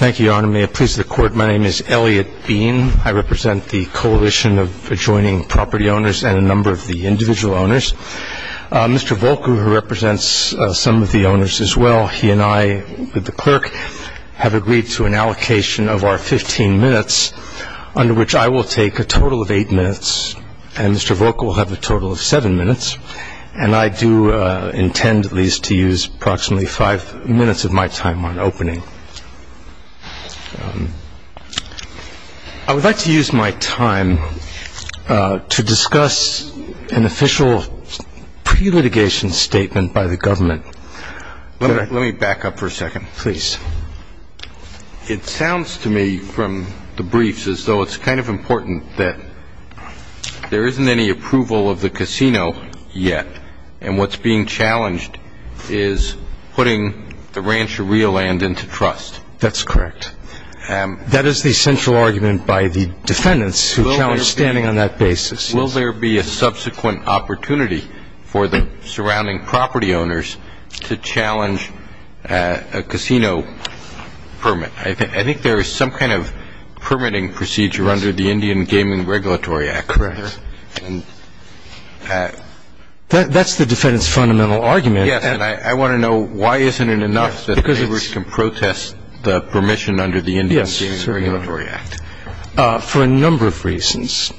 Thank you, Your Honor. May it please the Court, my name is Elliot Bean. I represent the Coalition of Adjoining Property Owners and a number of the individual owners. Mr. Volkow represents some of the owners as well. He and I, with the clerk, have agreed to an allocation of our 15 minutes, under which I will take a total of 8 minutes, and Mr. Volkow will have a total of 7 minutes. And I do intend, at least, to use approximately 5 minutes of my time on opening. I would like to use my time to discuss an official pre-litigation statement by the government. Let me back up for a second. Please. It sounds to me, from the briefs, as though it's kind of important that there isn't any approval of the casino yet, and what's being challenged is putting the ranch or real land into trust. That's correct. That is the central argument by the defendants, who challenge standing on that basis. Will there be a subsequent opportunity for the surrounding property owners to challenge a casino permit? I think there is some kind of permitting procedure under the Indian Gaming Regulatory Act. Correct. That's the defendants' fundamental argument. Yes, and I want to know why isn't it enough that neighbors can protest the permission under the Indian Gaming Regulatory Act. Yes, certainly. For a number of reasons.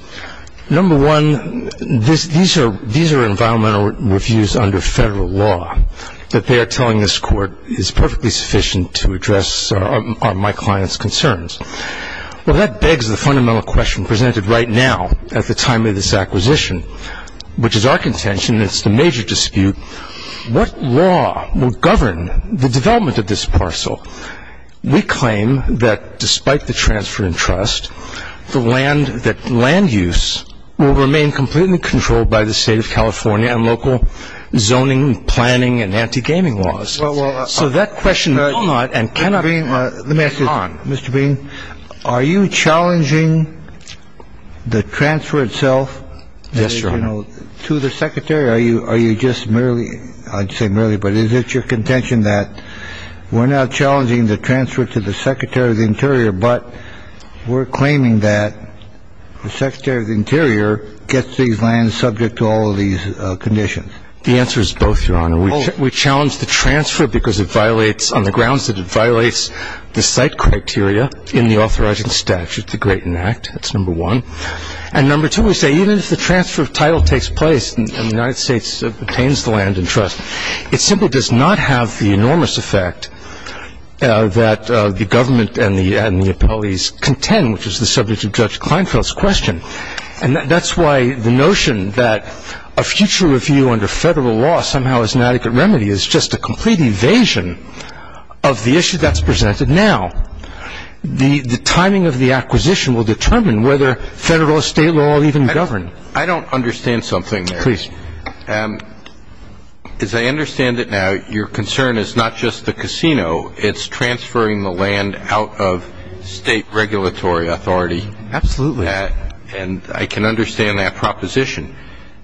Number one, these are environmental reviews under federal law that they are telling this court is perfectly sufficient to address my client's concerns. Well, that begs the fundamental question presented right now at the time of this acquisition, which is our contention, and it's the major dispute, what law will govern the development of this parcel? We claim that despite the transfer in trust, that land use will remain completely controlled by the state of California and local zoning, planning, and anti-gaming laws. So that question will not and cannot be— Let me ask you this, Mr. Bean. Are you challenging the transfer itself? Yes, Your Honor. To the Secretary, are you just merely—I'd say merely, but is it your contention that we're now challenging the transfer to the Secretary of the Interior, but we're claiming that the Secretary of the Interior gets these lands subject to all of these conditions? The answer is both, Your Honor. We challenge the transfer because it violates—on the grounds that it violates the site criteria in the authorizing statute, the Graton Act. That's number one. And number two, we say even if the transfer of title takes place and the United States obtains the land in trust, it simply does not have the enormous effect that the government and the appellees contend, which is the subject of Judge Kleinfeld's question. And that's why the notion that a future review under federal law somehow is an adequate remedy is just a complete evasion of the issue that's presented now. The timing of the acquisition will determine whether federal or state law will even govern. I don't understand something there. Please. As I understand it now, your concern is not just the casino. It's transferring the land out of state regulatory authority. Absolutely. And I can understand that proposition.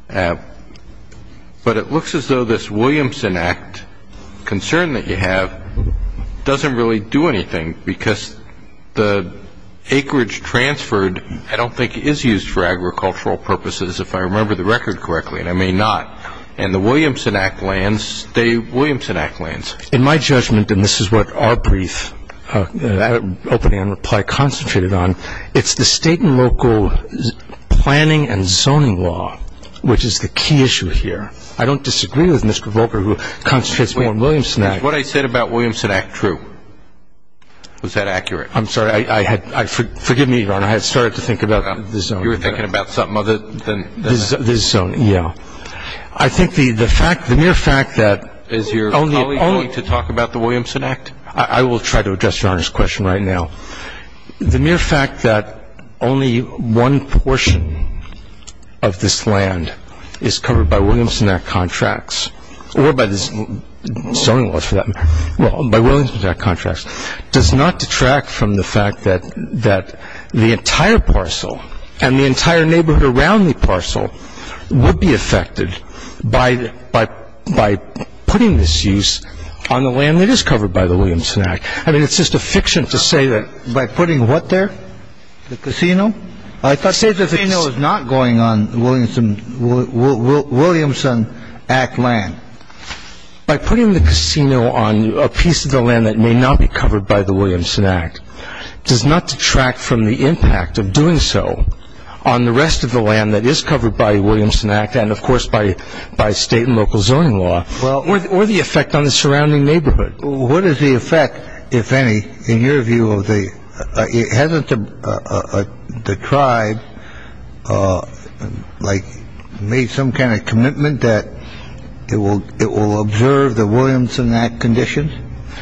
But it looks as though this Williamson Act concern that you have doesn't really do anything because the acreage transferred I don't think is used for agricultural purposes, if I remember the record correctly, and I may not. And the Williamson Act lands, the Williamson Act lands. In my judgment, and this is what our brief opening on reply concentrated on, it's the state and local planning and zoning law, which is the key issue here. I don't disagree with Mr. Volcker, who concentrates more on Williamson Act. Is what I said about Williamson Act true? Was that accurate? I'm sorry. Forgive me, Your Honor. I had started to think about the zoning. You were thinking about something other than that? The zoning, yeah. I think the mere fact that only the only. Is your colleague willing to talk about the Williamson Act? I will try to address Your Honor's question right now. The mere fact that only one portion of this land is covered by Williamson Act contracts or by the zoning laws for that matter, well, by Williamson Act contracts, does not detract from the fact that the entire parcel and the entire neighborhood around the parcel would be affected by putting this use on the land that is covered by the Williamson Act. I mean, it's just a fiction to say that by putting what there? The casino? I thought the casino is not going on Williamson Act land. By putting the casino on a piece of the land that may not be covered by the Williamson Act does not detract from the impact of doing so on the rest of the land that is covered by Williamson Act and, of course, by state and local zoning law or the effect on the surrounding neighborhood. What is the effect, if any, in your view of the? Hasn't the tribe, like, made some kind of commitment that it will observe the Williamson Act conditions?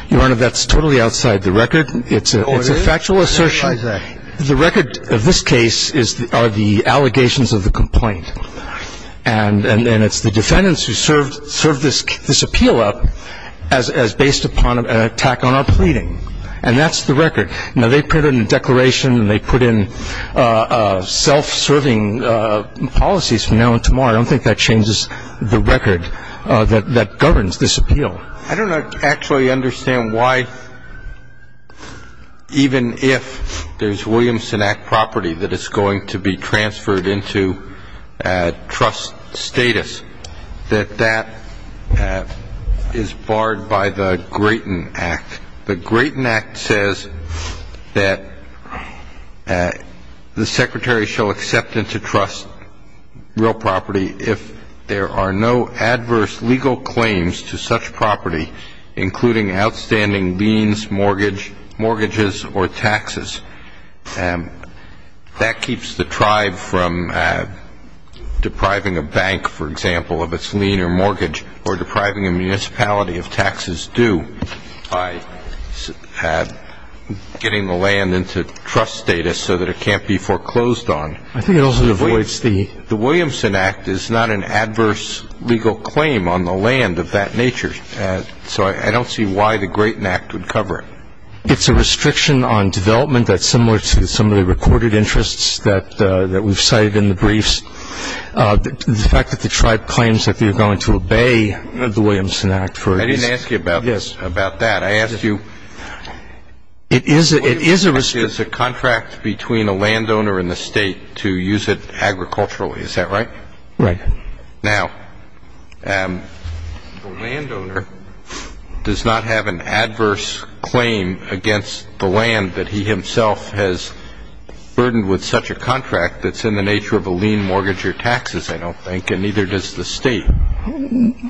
Your Honor, that's totally outside the record. It's a factual assertion. The record of this case are the allegations of the complaint. And it's the defendants who served this appeal up as based upon an attack on our pleading. And that's the record. Now, they put in a declaration and they put in self-serving policies from now until tomorrow. I don't think that changes the record that governs this appeal. I don't actually understand why, even if there's Williamson Act property that is going to be transferred into trust status, that that is barred by the Grayton Act. The Grayton Act says that the Secretary shall accept into trust real property if there are no adverse legal claims to such property, including outstanding liens, mortgages, or taxes. That keeps the tribe from depriving a bank, for example, of its lien or mortgage or depriving a municipality of taxes due by getting the land into trust status so that it can't be foreclosed on. I think it also avoids the The Williamson Act is not an adverse legal claim on the land of that nature. So I don't see why the Grayton Act would cover it. It's a restriction on development that's similar to some of the recorded interests that we've cited in the briefs. The fact that the tribe claims that they're going to obey the Williamson Act for I didn't ask you about that. I asked you It is a restriction The Williamson Act is a contract between a landowner and the State to use it agriculturally. Is that right? Right. Now, the landowner does not have an adverse claim against the land that he himself has burdened with such a contract that's in the nature of a lien, mortgage, or taxes, I don't think, and neither does the State.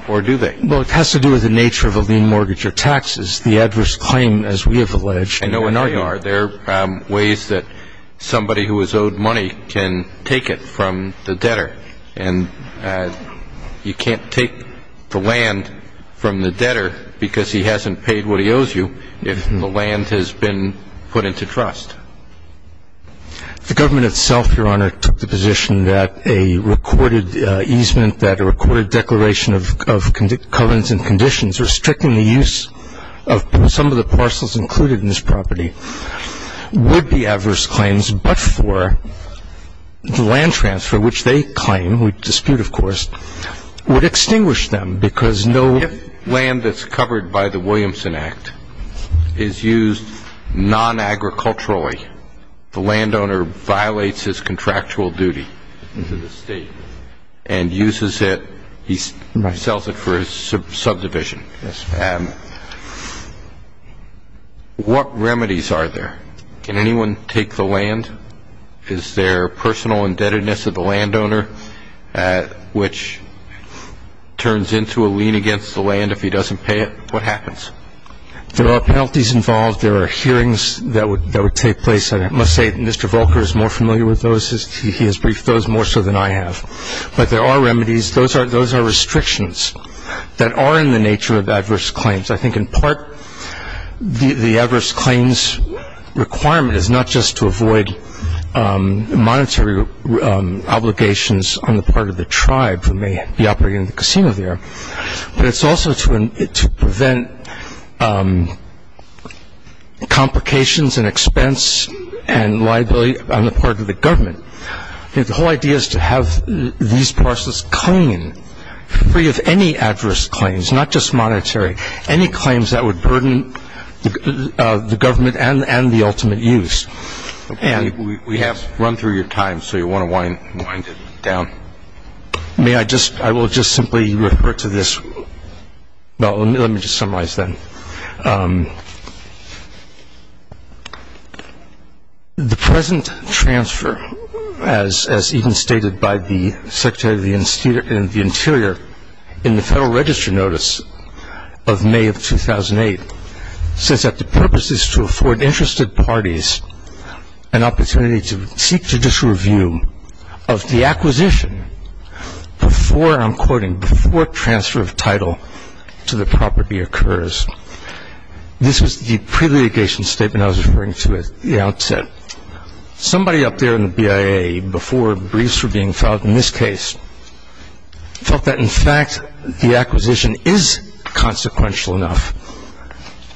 Or do they? Well, it has to do with the nature of a lien, mortgage, or taxes. I know where you are. There are ways that somebody who is owed money can take it from the debtor, and you can't take the land from the debtor because he hasn't paid what he owes you if the land has been put into trust. The government itself, Your Honor, took the position that a recorded easement, that a recorded declaration of covenants and conditions restricting the use of some of the parcels included in this property would be adverse claims but for the land transfer, which they claim, we dispute, of course, would extinguish them because no land that's covered by the Williamson Act is used non-agriculturally. The landowner violates his contractual duty to the State and uses it. He sells it for his subdivision. What remedies are there? Can anyone take the land? Is there personal indebtedness of the landowner which turns into a lien against the land if he doesn't pay it? What happens? There are penalties involved. There are hearings that would take place. I must say Mr. Volker is more familiar with those. He has briefed those more so than I have. But there are remedies. Those are restrictions that are in the nature of adverse claims. I think in part the adverse claims requirement is not just to avoid monetary obligations on the part of the tribe who may be operating the casino there, but it's also to prevent complications and expense and liability on the part of the government. The whole idea is to have these parcels clean, free of any adverse claims, not just monetary, any claims that would burden the government and the ultimate use. We have run through your time, so you'll want to wind it down. I will just simply refer to this. Let me just summarize then. The present transfer, as even stated by the Secretary of the Interior in the Federal Register Notice of May of 2008, says that the purpose is to afford interested parties an opportunity to seek judicial review of the acquisition before, I'm quoting, before transfer of title to the property occurs. This was the pre-litigation statement I was referring to at the outset. Somebody up there in the BIA before briefs were being filed in this case felt that, in fact, the acquisition is consequential enough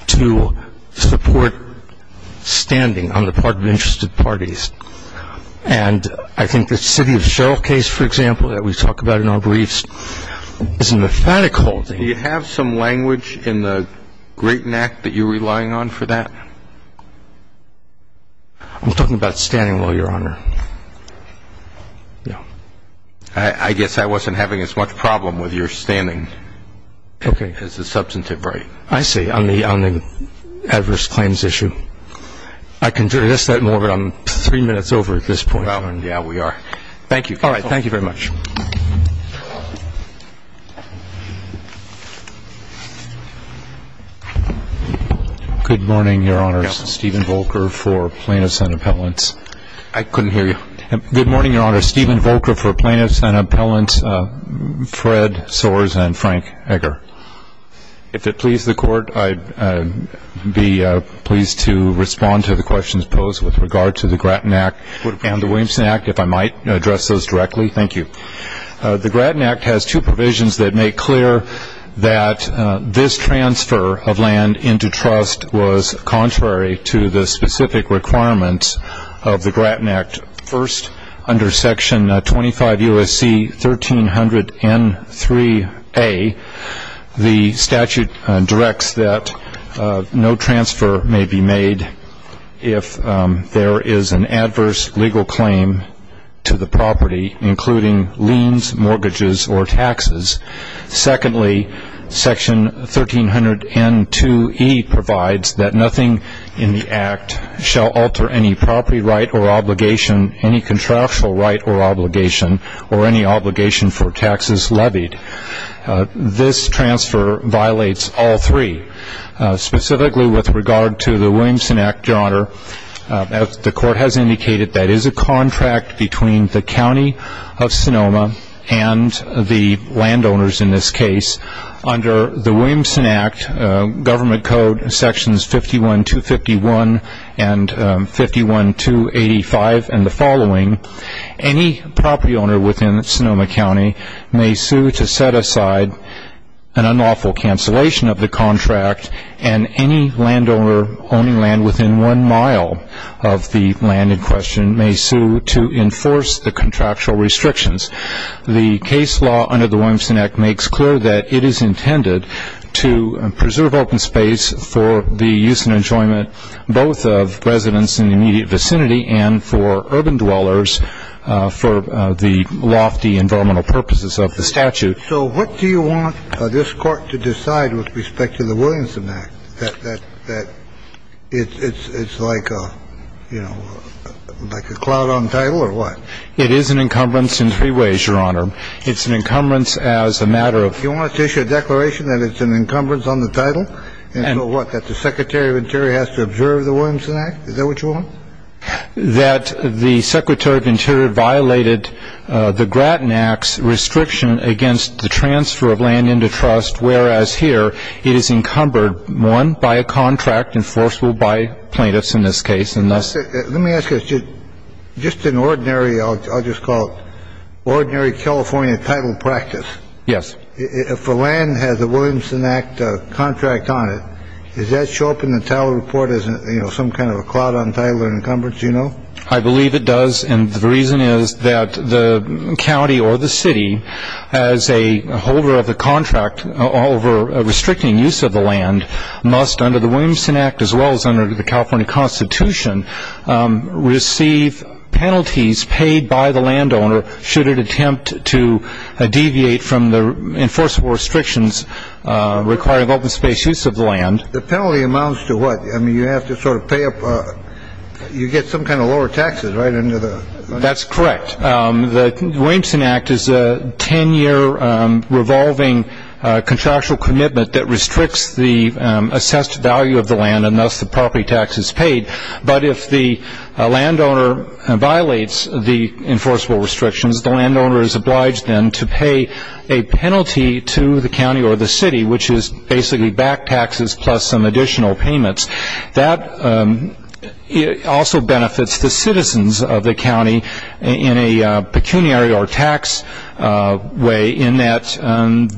to support standing on the part of interested parties And I think the City of Cheryl case, for example, that we talk about in our briefs, is a methodical thing. Do you have some language in the Grayton Act that you're relying on for that? I'm talking about standing law, Your Honor. I guess I wasn't having as much problem with your standing as the substantive right. I see, on the adverse claims issue. I can address that more, but I'm three minutes over at this point. Yeah, we are. Thank you. All right. Thank you very much. Good morning, Your Honors. Stephen Volker for Plaintiffs and Appellants. I couldn't hear you. Good morning, Your Honors. Stephen Volker for Plaintiffs and Appellants. Fred Soares and Frank Egger. If it pleases the Court, I'd be pleased to respond to the questions posed with regard to the Grayton Act and the Williamson Act, if I might address those directly. Thank you. The Grayton Act has two provisions that make clear that this transfer of land into trust was contrary to the specific requirements of the Grayton Act. First, under Section 25 U.S.C. 1300 N3A, the statute directs that no transfer may be made if there is an adverse legal claim to the property, including liens, mortgages, or taxes. Secondly, Section 1300 N2E provides that nothing in the Act shall alter any property right or obligation, any contractual right or obligation, or any obligation for taxes levied. This transfer violates all three. Specifically with regard to the Williamson Act, Your Honor, the Court has indicated that it is a contract between the County of Sonoma and the landowners in this case. Under the Williamson Act, Government Code Sections 51-251 and 51-285 and the following, any property owner within Sonoma County may sue to set aside an unlawful cancellation of the contract and any landowner owning land within one mile of the land in question may sue to enforce the contractual restrictions. The case law under the Williamson Act makes clear that it is intended to preserve open space for the use and enjoyment both of residents in the immediate vicinity and for urban dwellers for the lofty environmental purposes of the statute. But so what do you want this Court to decide with respect to the Williamson Act? That it's like a, you know, like a cloud on title or what? It is an encumbrance in three ways, Your Honor. It's an encumbrance as a matter of You want us to issue a declaration that it's an encumbrance on the title? And so what, that the Secretary of Interior has to observe the Williamson Act? Is that what you want? That the Secretary of Interior violated the Grattan Act's restriction against the transfer of land into trust, whereas here it is encumbered, one, by a contract enforceable by plaintiffs in this case and thus Let me ask you, just an ordinary, I'll just call it ordinary California title practice. Yes. If a land has a Williamson Act contract on it, does that show up in the title report as some kind of a cloud on title or encumbrance, do you know? I believe it does, and the reason is that the county or the city, as a holder of the contract over restricting use of the land, must under the Williamson Act as well as under the California Constitution, receive penalties paid by the landowner should it attempt to deviate from the enforceable restrictions requiring open space use of land. The penalty amounts to what? I mean, you have to sort of pay up, you get some kind of lower taxes, right? That's correct. The Williamson Act is a ten-year revolving contractual commitment that restricts the assessed value of the land and thus the property taxes paid, but if the landowner violates the enforceable restrictions, the landowner is obliged then to pay a penalty to the county or the city, which is basically back taxes plus some additional payments. That also benefits the citizens of the county in a pecuniary or tax way, in that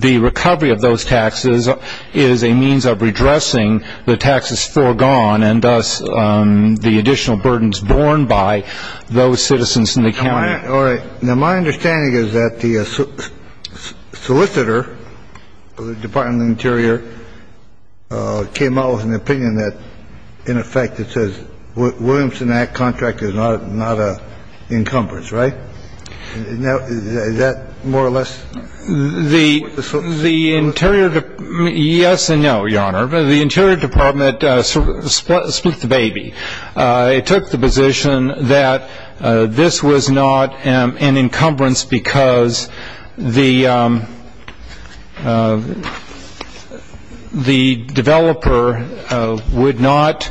the recovery of those taxes is a means of redressing the taxes foregone and thus the additional burdens borne by those citizens in the county. All right. Now, my understanding is that the solicitor of the Department of the Interior came out with an opinion that, in effect, it says the Williamson Act contract is not an encumbrance, right? Is that more or less what the solicitor said? Yes and no, Your Honor. The Interior Department speaks the baby. It took the position that this was not an encumbrance because the developer would not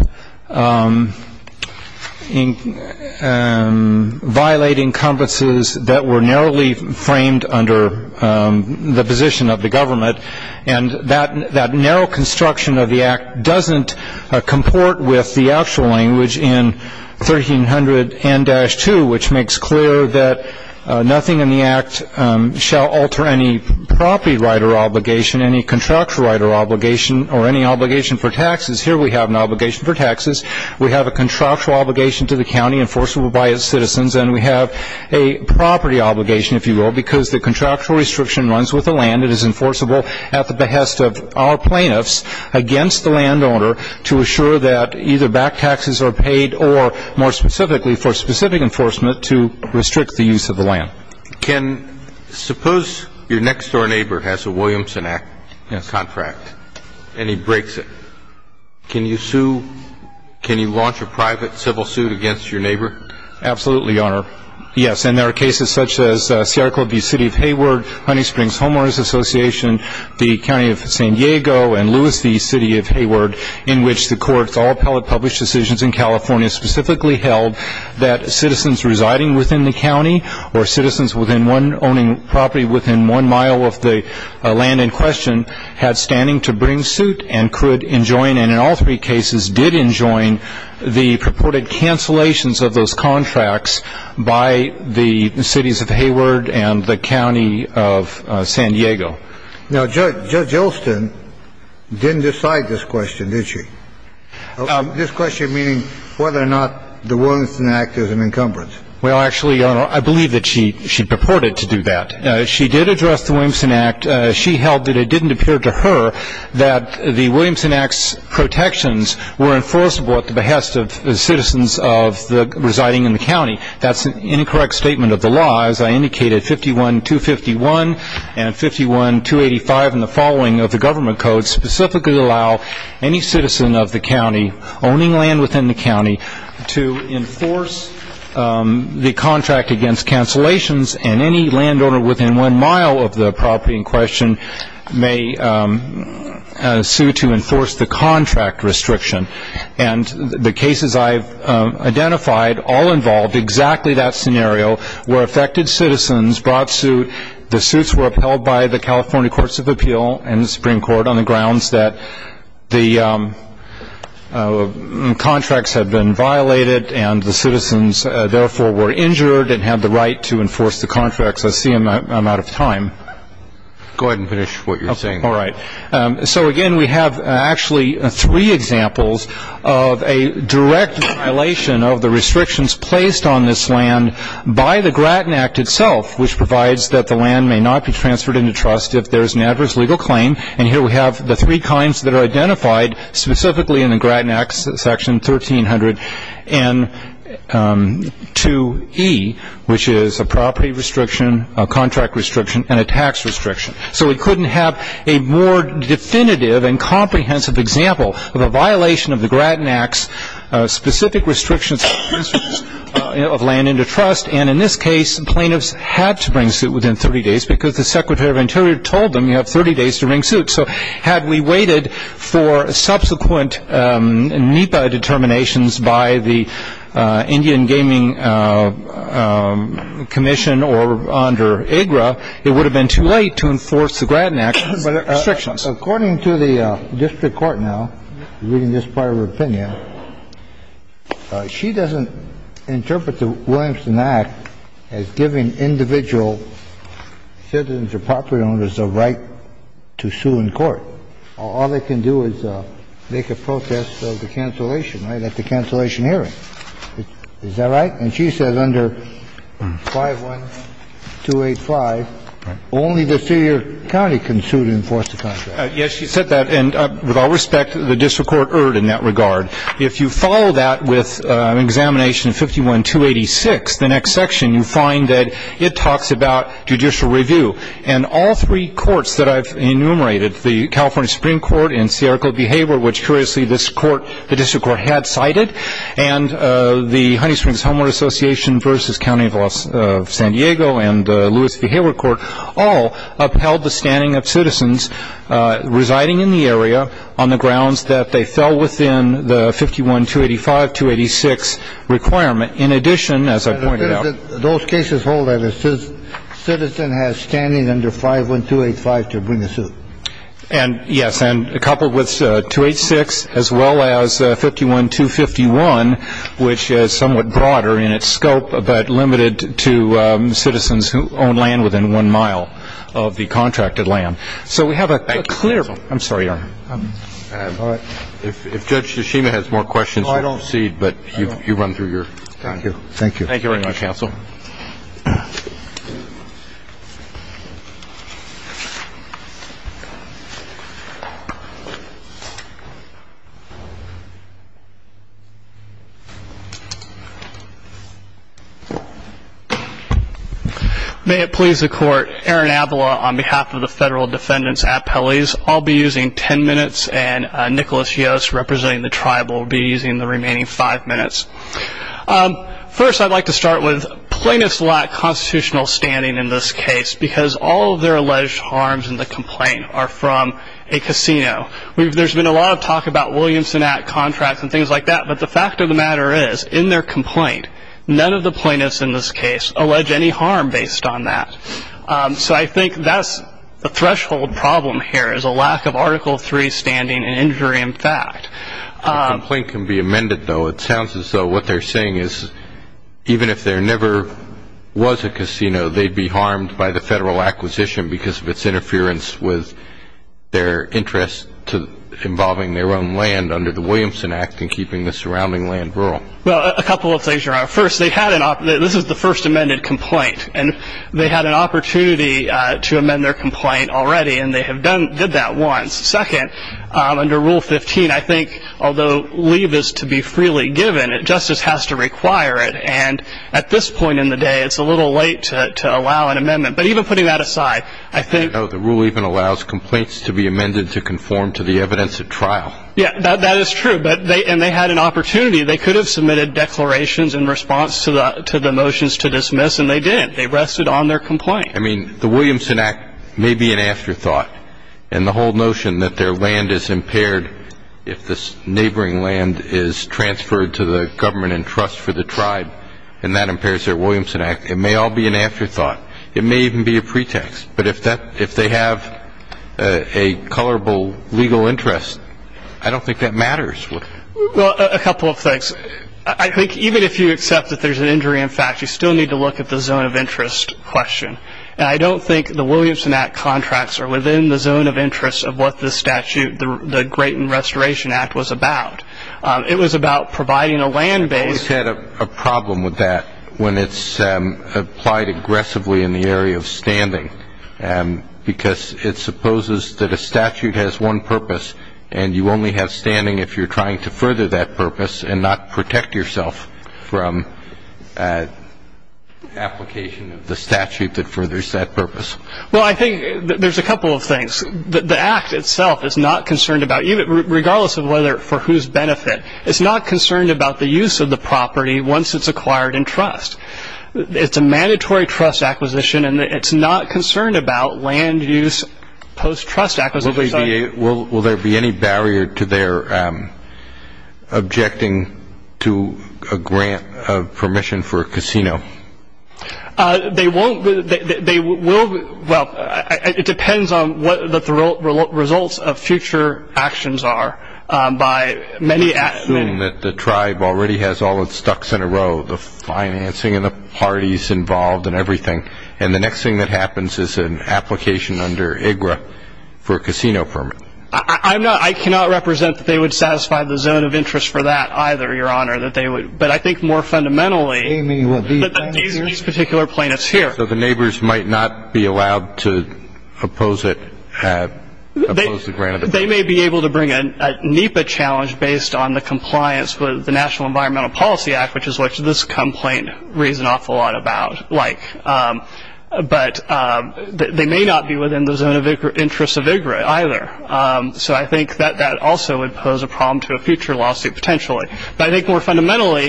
violate encumbrances that were narrowly framed under the position of the government and that narrow construction of the Act doesn't comport with the actual language in 1300 N-2, which makes clear that nothing in the Act shall alter any property right or obligation, any contractual right or obligation, or any obligation for taxes. Here we have an obligation for taxes. We have a contractual obligation to the county enforceable by its citizens, and we have a property obligation, if you will, because the contractual restriction runs with the land. It is enforceable at the behest of our plaintiffs against the landowner to assure that either back taxes are paid or, more specifically, for specific enforcement to restrict the use of the land. Suppose your next-door neighbor has a Williamson Act contract and he breaks it. Can you launch a private civil suit against your neighbor? Absolutely, Your Honor. Yes, and there are cases such as Sierra Club v. City of Hayward, Honey Springs Homeowners Association, the County of San Diego, and Lewis v. City of Hayward, in which the courts all published decisions in California specifically held that citizens residing within the county or citizens owning property within one mile of the land in question had standing to bring suit and could enjoin, and in all three cases did enjoin, the purported cancellations of those contracts by the cities of Hayward and the county of San Diego. Now, Judge Olson didn't decide this question, did she? This question meaning whether or not the Williamson Act is an encumbrance. Well, actually, Your Honor, I believe that she purported to do that. She did address the Williamson Act. She held that it didn't appear to her that the Williamson Act's protections were enforceable at the behest of the citizens residing in the county. That's an incorrect statement of the law. As I indicated, 51-251 and 51-285 and the following of the government code specifically allow any citizen of the county owning land within the county to enforce the contract against cancellations, and any landowner within one mile of the property in question may sue to enforce the contract restriction. And the cases I've identified all involved exactly that scenario where affected citizens brought suit. The suits were upheld by the California Courts of Appeal and the Supreme Court on the grounds that the contracts had been violated and the citizens, therefore, were injured and had the right to enforce the contracts. I see I'm out of time. Go ahead and finish what you're saying. All right. So, again, we have actually three examples of a direct violation of the restrictions placed on this land by the Grattan Act itself, which provides that the land may not be transferred into trust if there is an adverse legal claim. And here we have the three kinds that are identified specifically in the Grattan Act, Section 1300-2E, which is a property restriction, a contract restriction, and a tax restriction. So we couldn't have a more definitive and comprehensive example of a violation of the Grattan Act's specific restrictions of land into trust, and in this case, plaintiffs had to bring suit within 30 days because the Secretary of Interior told them you have 30 days to bring suit. So had we waited for subsequent NEPA determinations by the Indian Gaming Commission or under AGRA, it would have been too late to enforce the Grattan Act's restrictions. According to the district court now, reading this part of her opinion, she doesn't interpret the Williamson Act as giving individual citizens or property owners the right to sue in court. All they can do is make a protest of the cancellation, right, at the cancellation hearing. Is that right? And she says under 51285, only the city or county can sue to enforce the contract. Yes, she said that, and with all respect, the district court erred in that regard. If you follow that with Examination 51286, the next section, you find that it talks about judicial review, and all three courts that I've enumerated, the California Supreme Court and Sierra Club Behavior, which, curiously, this court, the district court, had cited, and the Honey Springs Homeowner Association v. County of San Diego and the Lewis Behavior Court all upheld the standing of citizens residing in the area on the grounds that they fell within the 51285-286 requirement. In addition, as I pointed out – Those cases hold that a citizen has standing under 51285 to bring a suit. Yes, and coupled with 286 as well as 51251, which is somewhat broader in its scope but limited to citizens who own land within one mile of the contracted land. So we have a clear – I'm sorry, Your Honor. All right. If Judge Yashima has more questions, we'll proceed, but you run through your time. Thank you very much, counsel. May it please the Court. Aaron Avila on behalf of the Federal Defendant's Appellees. I'll be using 10 minutes, and Nicholas Yost, representing the Tribal, will be using the remaining 5 minutes. First, I'd like to start with plaintiffs' lack of constitutional standing in this case because all of their alleged harms in the complaint are from a casino. There's been a lot of talk about Williamson Act contracts and things like that, but the fact of the matter is, in their complaint, none of the plaintiffs in this case allege any harm based on that. So I think that's the threshold problem here is a lack of Article III standing and injury in fact. The complaint can be amended, though. It sounds as though what they're saying is even if there never was a casino, they'd be harmed by the federal acquisition because of its interference with their interest involving their own land under the Williamson Act and keeping the surrounding land rural. Well, a couple of things you're right. First, this is the first amended complaint, and they had an opportunity to amend their complaint already, and they did that once. Second, under Rule 15, I think although leave is to be freely given, justice has to require it. And at this point in the day, it's a little late to allow an amendment. But even putting that aside, I think the rule even allows complaints to be amended to conform to the evidence at trial. Yeah, that is true. And they had an opportunity. They could have submitted declarations in response to the motions to dismiss, and they didn't. They rested on their complaint. I mean, the Williamson Act may be an afterthought, and the whole notion that their land is impaired if the neighboring land is transferred to the government in trust for the tribe and that impairs their Williamson Act, it may all be an afterthought. It may even be a pretext. But if they have a colorable legal interest, I don't think that matters. Well, a couple of things. I think even if you accept that there's an injury in fact, you still need to look at the zone of interest question. And I don't think the Williamson Act contracts are within the zone of interest of what the statute, the Graton Restoration Act, was about. It was about providing a land base. I've always had a problem with that when it's applied aggressively in the area of standing because it supposes that a statute has one purpose, and you only have standing if you're trying to further that purpose and not protect yourself from application of the statute that furthers that purpose. Well, I think there's a couple of things. The Act itself is not concerned about, regardless of whether for whose benefit, it's not concerned about the use of the property once it's acquired in trust. It's a mandatory trust acquisition, and it's not concerned about land use post-trust acquisition. Will there be any barrier to their objecting to a grant of permission for a casino? They won't. They will. Well, it depends on what the results of future actions are. I assume that the tribe already has all its ducks in a row, the financing and the parties involved and everything, and the next thing that happens is an application under IGRA for a casino permit. I cannot represent that they would satisfy the zone of interest for that either, Your Honor, but I think more fundamentally that these particular plaintiffs here. So the neighbors might not be allowed to oppose the grant of the permit? They may be able to bring a NEPA challenge based on the compliance with the National Environmental Policy Act, which is what this complaint reads an awful lot about, but they may not be within the zone of interest of IGRA either, so I think that that also would pose a problem to a future lawsuit potentially. But I think more fundamentally,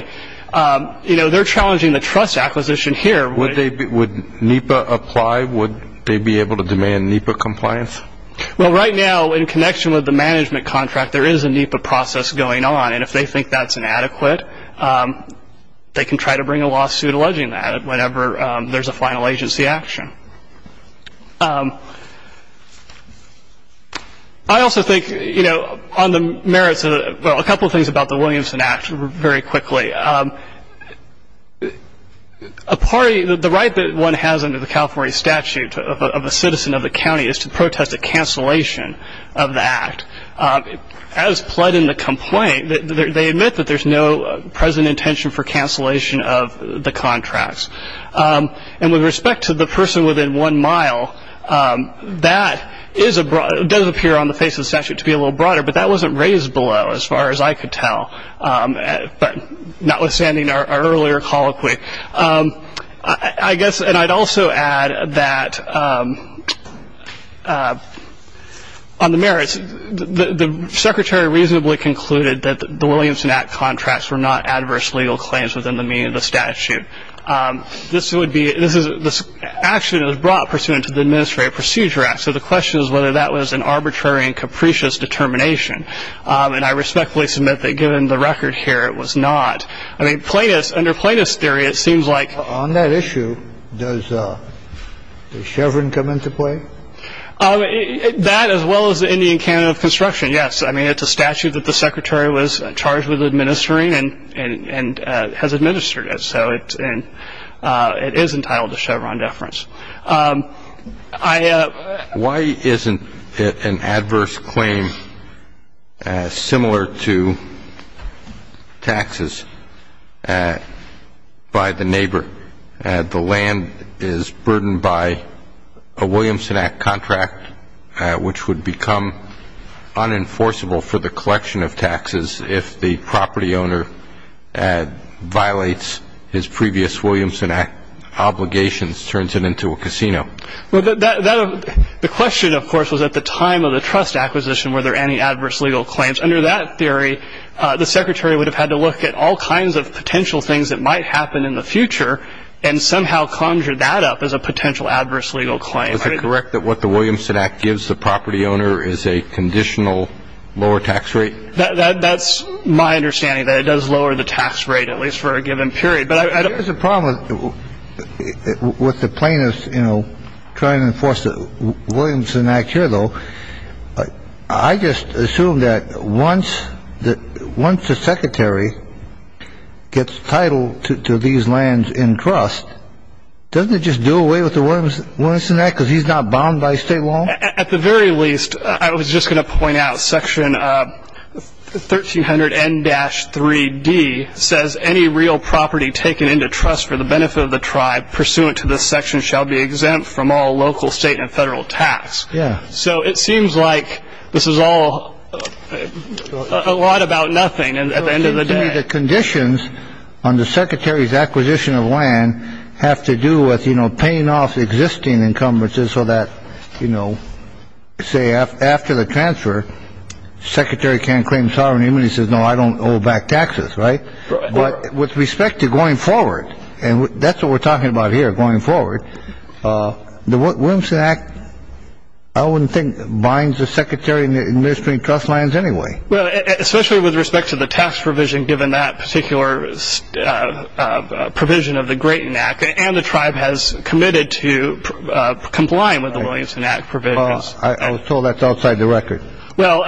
you know, they're challenging the trust acquisition here. Would NEPA apply? Would they be able to demand NEPA compliance? Well, right now, in connection with the management contract, there is a NEPA process going on, and if they think that's inadequate, they can try to bring a lawsuit alleging that whenever there's a final agency action. I also think, you know, on the merits of the – well, a couple of things about the Williamson Act very quickly. A party – the right that one has under the California statute of a citizen of the county is to protest a cancellation of the act. As pled in the complaint, they admit that there's no present intention for cancellation of the contracts. And with respect to the person within one mile, that does appear on the face of the statute to be a little broader, but that wasn't raised below as far as I could tell, but notwithstanding our earlier colloquy. I guess – and I'd also add that on the merits, the secretary reasonably concluded that the Williamson Act contracts were not adverse legal claims within the meaning of the statute. This would be – this is – this action was brought pursuant to the Administrative Procedure Act, so the question is whether that was an arbitrary and capricious determination. And I respectfully submit that given the record here, it was not. I mean, plaintiffs – under plaintiffs' theory, it seems like – On that issue, does Chevron come into play? That, as well as the Indian Canada of Construction, yes. I mean, it's a statute that the secretary was charged with administering and has administered it, so it is entitled to Chevron deference. Why isn't it an adverse claim similar to taxes by the neighbor? The land is burdened by a Williamson Act contract, which would become unenforceable for the collection of taxes if the property owner violates his previous Williamson Act obligations, turns it into a casino. The question, of course, was at the time of the trust acquisition, were there any adverse legal claims. Under that theory, the secretary would have had to look at all kinds of potential things that might happen in the future and somehow conjure that up as a potential adverse legal claim. Is it correct that what the Williamson Act gives the property owner is a conditional lower tax rate? That's my understanding, that it does lower the tax rate, at least for a given period. There's a problem with the plaintiffs trying to enforce the Williamson Act here, though. I just assume that once the secretary gets title to these lands in trust, doesn't it just do away with the Williamson Act because he's not bound by state law? At the very least, I was just going to point out section 1300 N-3D says, any real property taken into trust for the benefit of the tribe pursuant to this section shall be exempt from all local, state, and federal tax. Yeah. So it seems like this is all a lot about nothing. And at the end of the day, the conditions on the secretary's acquisition of land have to do with, you know, paying off existing encumbrances so that, you know, say after the transfer, secretary can't claim sovereignty. He says, no, I don't owe back taxes. Right. But with respect to going forward. And that's what we're talking about here. Going forward. The Williamson Act, I wouldn't think, binds the secretary in the administrative trust lands anyway. Well, especially with respect to the tax provision, given that particular provision of the Grayton Act. And the tribe has committed to complying with the Williamson Act provisions. I was told that's outside the record. Well,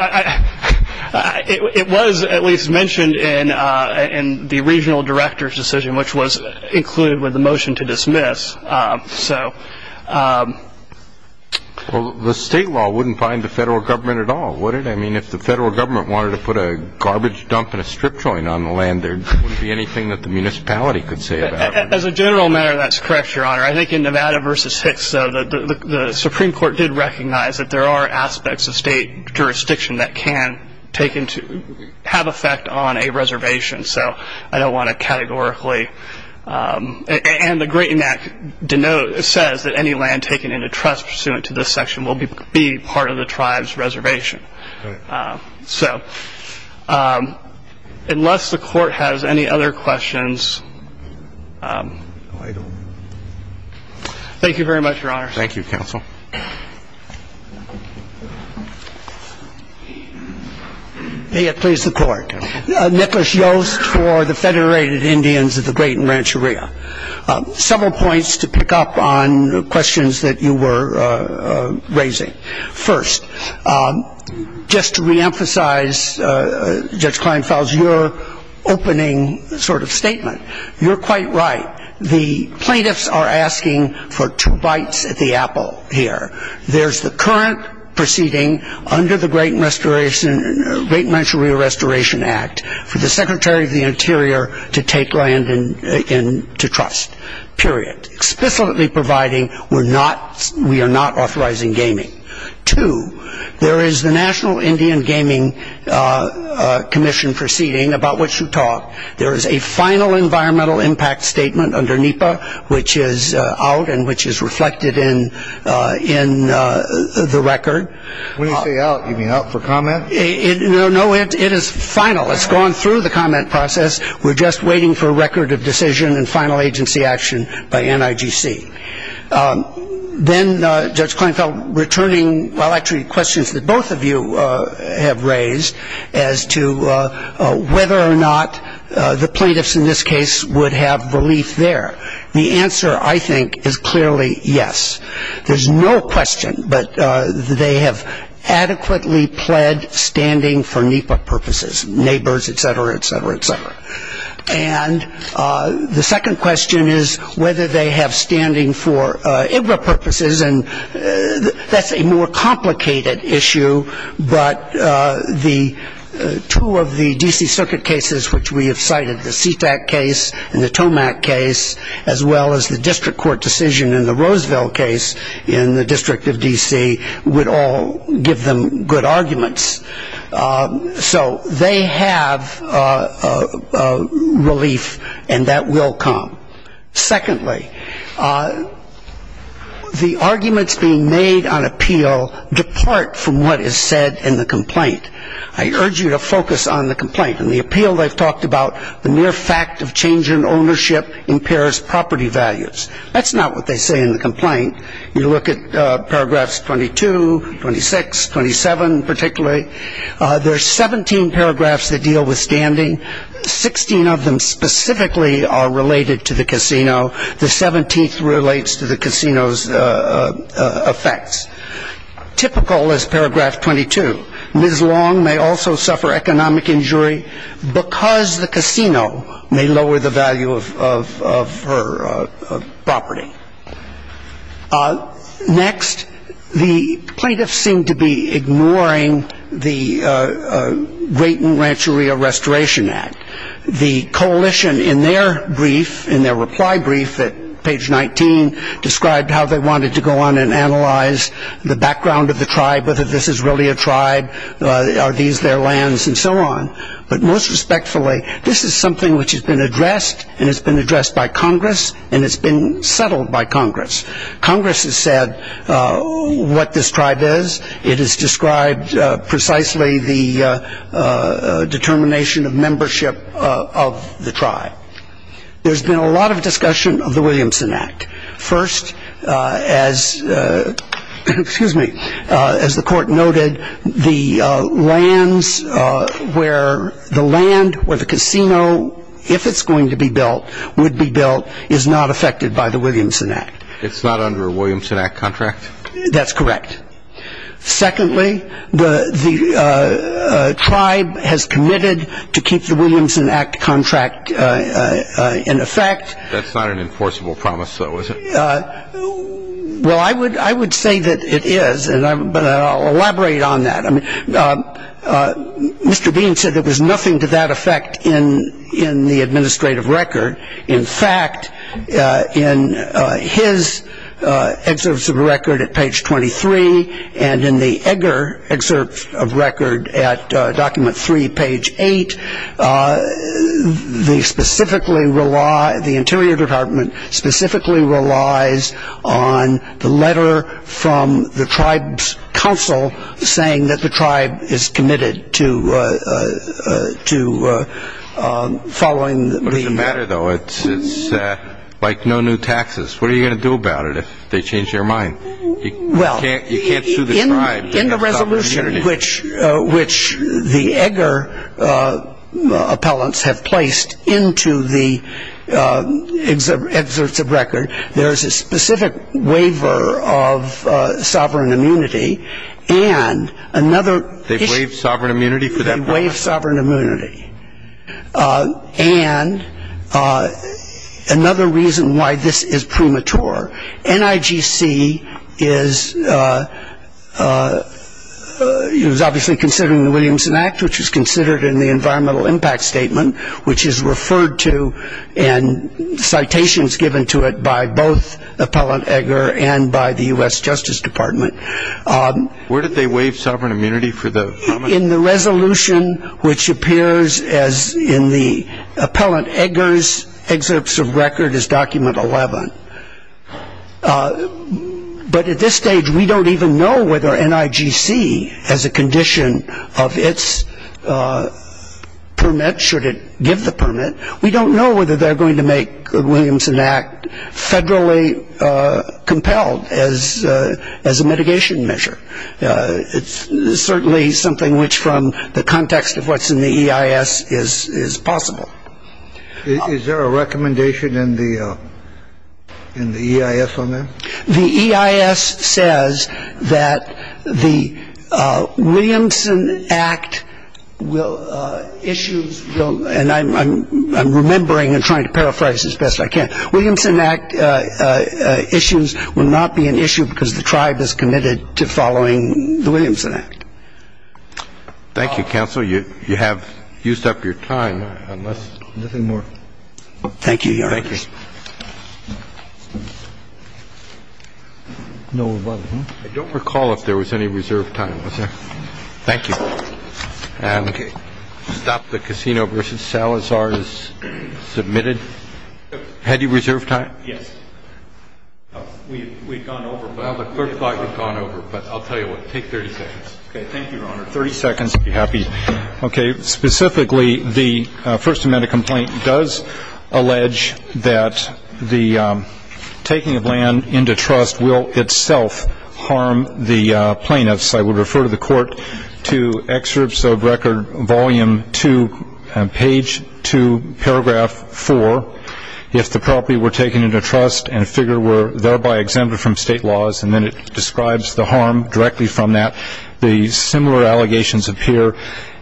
it was at least mentioned in the regional director's decision, which was included with the motion to dismiss. So. Well, the state law wouldn't bind the federal government at all, would it? I mean, if the federal government wanted to put a garbage dump in a strip joint on the land, there wouldn't be anything that the municipality could say about it. As a general matter, that's correct, Your Honor. I think in Nevada versus Hicks, the Supreme Court did recognize that there are aspects of state jurisdiction that can take into have effect on a reservation. So I don't want to categorically. And the Grayton Act says that any land taken into trust pursuant to this section will be part of the tribe's reservation. So unless the Court has any other questions. Thank you very much, Your Honor. Thank you, counsel. May it please the Court. Nicholas Yost for the Federated Indians of the Grayton Rancheria. Several points to pick up on questions that you were raising. First, just to reemphasize, Judge Kleinfels, your opening sort of statement, you're quite right. The plaintiffs are asking for two bites at the apple here. There's the current proceeding under the Grayton Rancheria Restoration Act for the Secretary of the Interior to take land into trust, period. Explicitly providing we are not authorizing gaming. Two, there is the National Indian Gaming Commission proceeding about which you talked. There is a final environmental impact statement under NEPA, which is out and which is reflected in the record. When you say out, you mean out for comment? No, it is final. It's gone through the comment process. We're just waiting for a record of decision and final agency action by NIGC. Then, Judge Kleinfels, returning, well, actually questions that both of you have raised as to whether or not the plaintiffs in this case would have relief there. The answer, I think, is clearly yes. There's no question, but they have adequately pled standing for NEPA purposes, neighbors, et cetera, et cetera, et cetera. And the second question is whether they have standing for IGRA purposes. And that's a more complicated issue, but the two of the D.C. Circuit cases, which we have cited, the Sea-Tac case and the Tomac case, as well as the district court decision and the Roseville case in the District of D.C., would all give them good arguments. So they have relief, and that will come. Secondly, the arguments being made on appeal depart from what is said in the complaint. I urge you to focus on the complaint. In the appeal, they've talked about the mere fact of change in ownership impairs property values. That's not what they say in the complaint. You look at paragraphs 22, 26, 27 particularly. There are 17 paragraphs that deal with standing. Sixteen of them specifically are related to the casino. The 17th relates to the casino's effects. Typical is paragraph 22. Ms. Long may also suffer economic injury because the casino may lower the value of her property. Next, the plaintiffs seem to be ignoring the Grayton Rancheria Restoration Act. The coalition in their brief, in their reply brief at page 19, described how they wanted to go on and analyze the background of the tribe, whether this is really a tribe, are these their lands, and so on. But most respectfully, this is something which has been addressed, and it's been addressed by Congress, and it's been settled by Congress. Congress has said what this tribe is. It has described precisely the determination of membership of the tribe. There's been a lot of discussion of the Williamson Act. First, as the court noted, the lands where the land, where the casino, if it's going to be built, would be built, is not affected by the Williamson Act. It's not under a Williamson Act contract? That's correct. Secondly, the tribe has committed to keep the Williamson Act contract in effect. That's not an enforceable promise, though, is it? Well, I would say that it is, but I'll elaborate on that. Mr. Bean said there was nothing to that effect in the administrative record. In fact, in his excerpts of the record at page 23 and in the Egger excerpt of record at document 3, page 8, the Interior Department specifically relies on the letter from the tribe's council saying that the tribe is committed to following the... What's the matter, though? It's like no new taxes. What are you going to do about it if they change their mind? You can't sue the tribe. In the resolution which the Egger appellants have placed into the excerpts of record, there is a specific waiver of sovereign immunity and another... They've waived sovereign immunity for that purpose? They've waived sovereign immunity. And another reason why this is premature. NIGC is obviously considering the Williamson Act, which is considered in the environmental impact statement, which is referred to in citations given to it by both Appellant Egger and by the U.S. Justice Department. Where did they waive sovereign immunity for the... In the resolution which appears in the Appellant Egger's excerpts of record is document 11. But at this stage, we don't even know whether NIGC has a condition of its permit, should it give the permit. We don't know whether they're going to make the Williamson Act federally compelled as a mitigation measure. It's certainly something which from the context of what's in the EIS is possible. Is there a recommendation in the EIS on that? The EIS says that the Williamson Act will... issues... And I'm remembering and trying to paraphrase as best I can. Williamson Act issues will not be an issue because the tribe is committed to following the Williamson Act. Thank you, Counsel. You have used up your time, unless... Nothing more. Thank you, Your Honor. Thank you. I don't recall if there was any reserved time, was there? Thank you. Okay. Stop the Casino v. Salazar is submitted. Had you reserved time? Yes. We've gone over... Well, the clerk thought you'd gone over, but I'll tell you what, take 30 seconds. Okay. Thank you, Your Honor. Thirty seconds if you're happy. Okay. Specifically, the First Amendment complaint does allege that the taking of land into trust will itself harm the plaintiffs. I would refer to the Court to excerpts of Record Volume 2, Page 2, Paragraph 4, if the property were taken into trust and figure were thereby exempted from state laws, and then it describes the harm directly from that. The similar allegations appear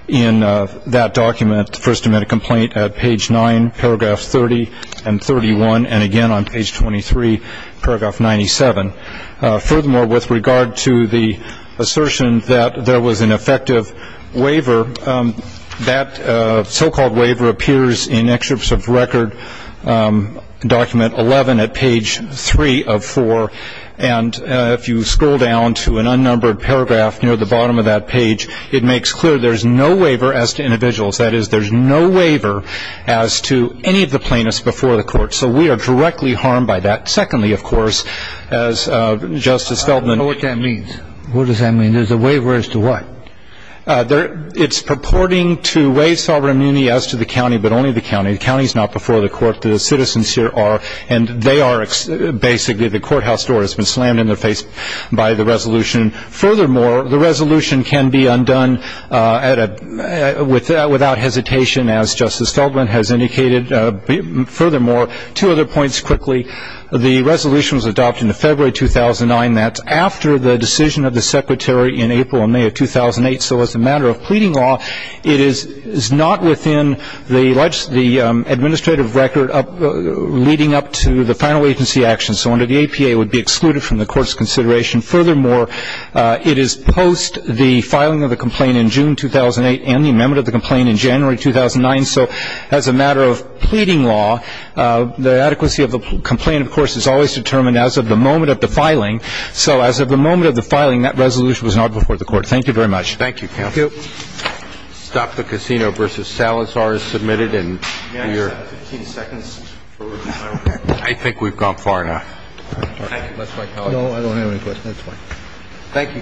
in that document, the First Amendment complaint, at Page 9, Paragraph 30 and 31, and again on Page 23, Paragraph 97. Furthermore, with regard to the assertion that there was an effective waiver, that so-called waiver appears in excerpts of Record Document 11 at Page 3 of 4, and if you scroll down to an unnumbered paragraph near the bottom of that page, it makes clear there's no waiver as to individuals. That is, there's no waiver as to any of the plaintiffs before the Court. So we are directly harmed by that. Secondly, of course, as Justice Feldman- I don't know what that means. What does that mean? There's a waiver as to what? It's purporting to waive sovereign immunity as to the county, but only the county. The county is not before the Court. The citizens here are, and they are basically the courthouse door has been slammed in their face by the resolution. Furthermore, the resolution can be undone without hesitation, as Justice Feldman has indicated. Furthermore, two other points quickly. The resolution was adopted in February 2009. That's after the decision of the Secretary in April and May of 2008. So as a matter of pleading law, it is not within the administrative record leading up to the final agency action. So under the APA, it would be excluded from the Court's consideration. Furthermore, it is post the filing of the complaint in June 2008 and the amendment of the complaint in January 2009. So as a matter of pleading law, the adequacy of the complaint, of course, is always determined as of the moment of the filing. So as of the moment of the filing, that resolution was not before the Court. Thank you very much. Thank you, counsel. Thank you. Stop the Casino v. Salazar is submitted. And we are- May I have 15 seconds for- I think we've gone far enough. Thank you. That's fine. No, I don't have any questions. That's fine. Thank you, counsel.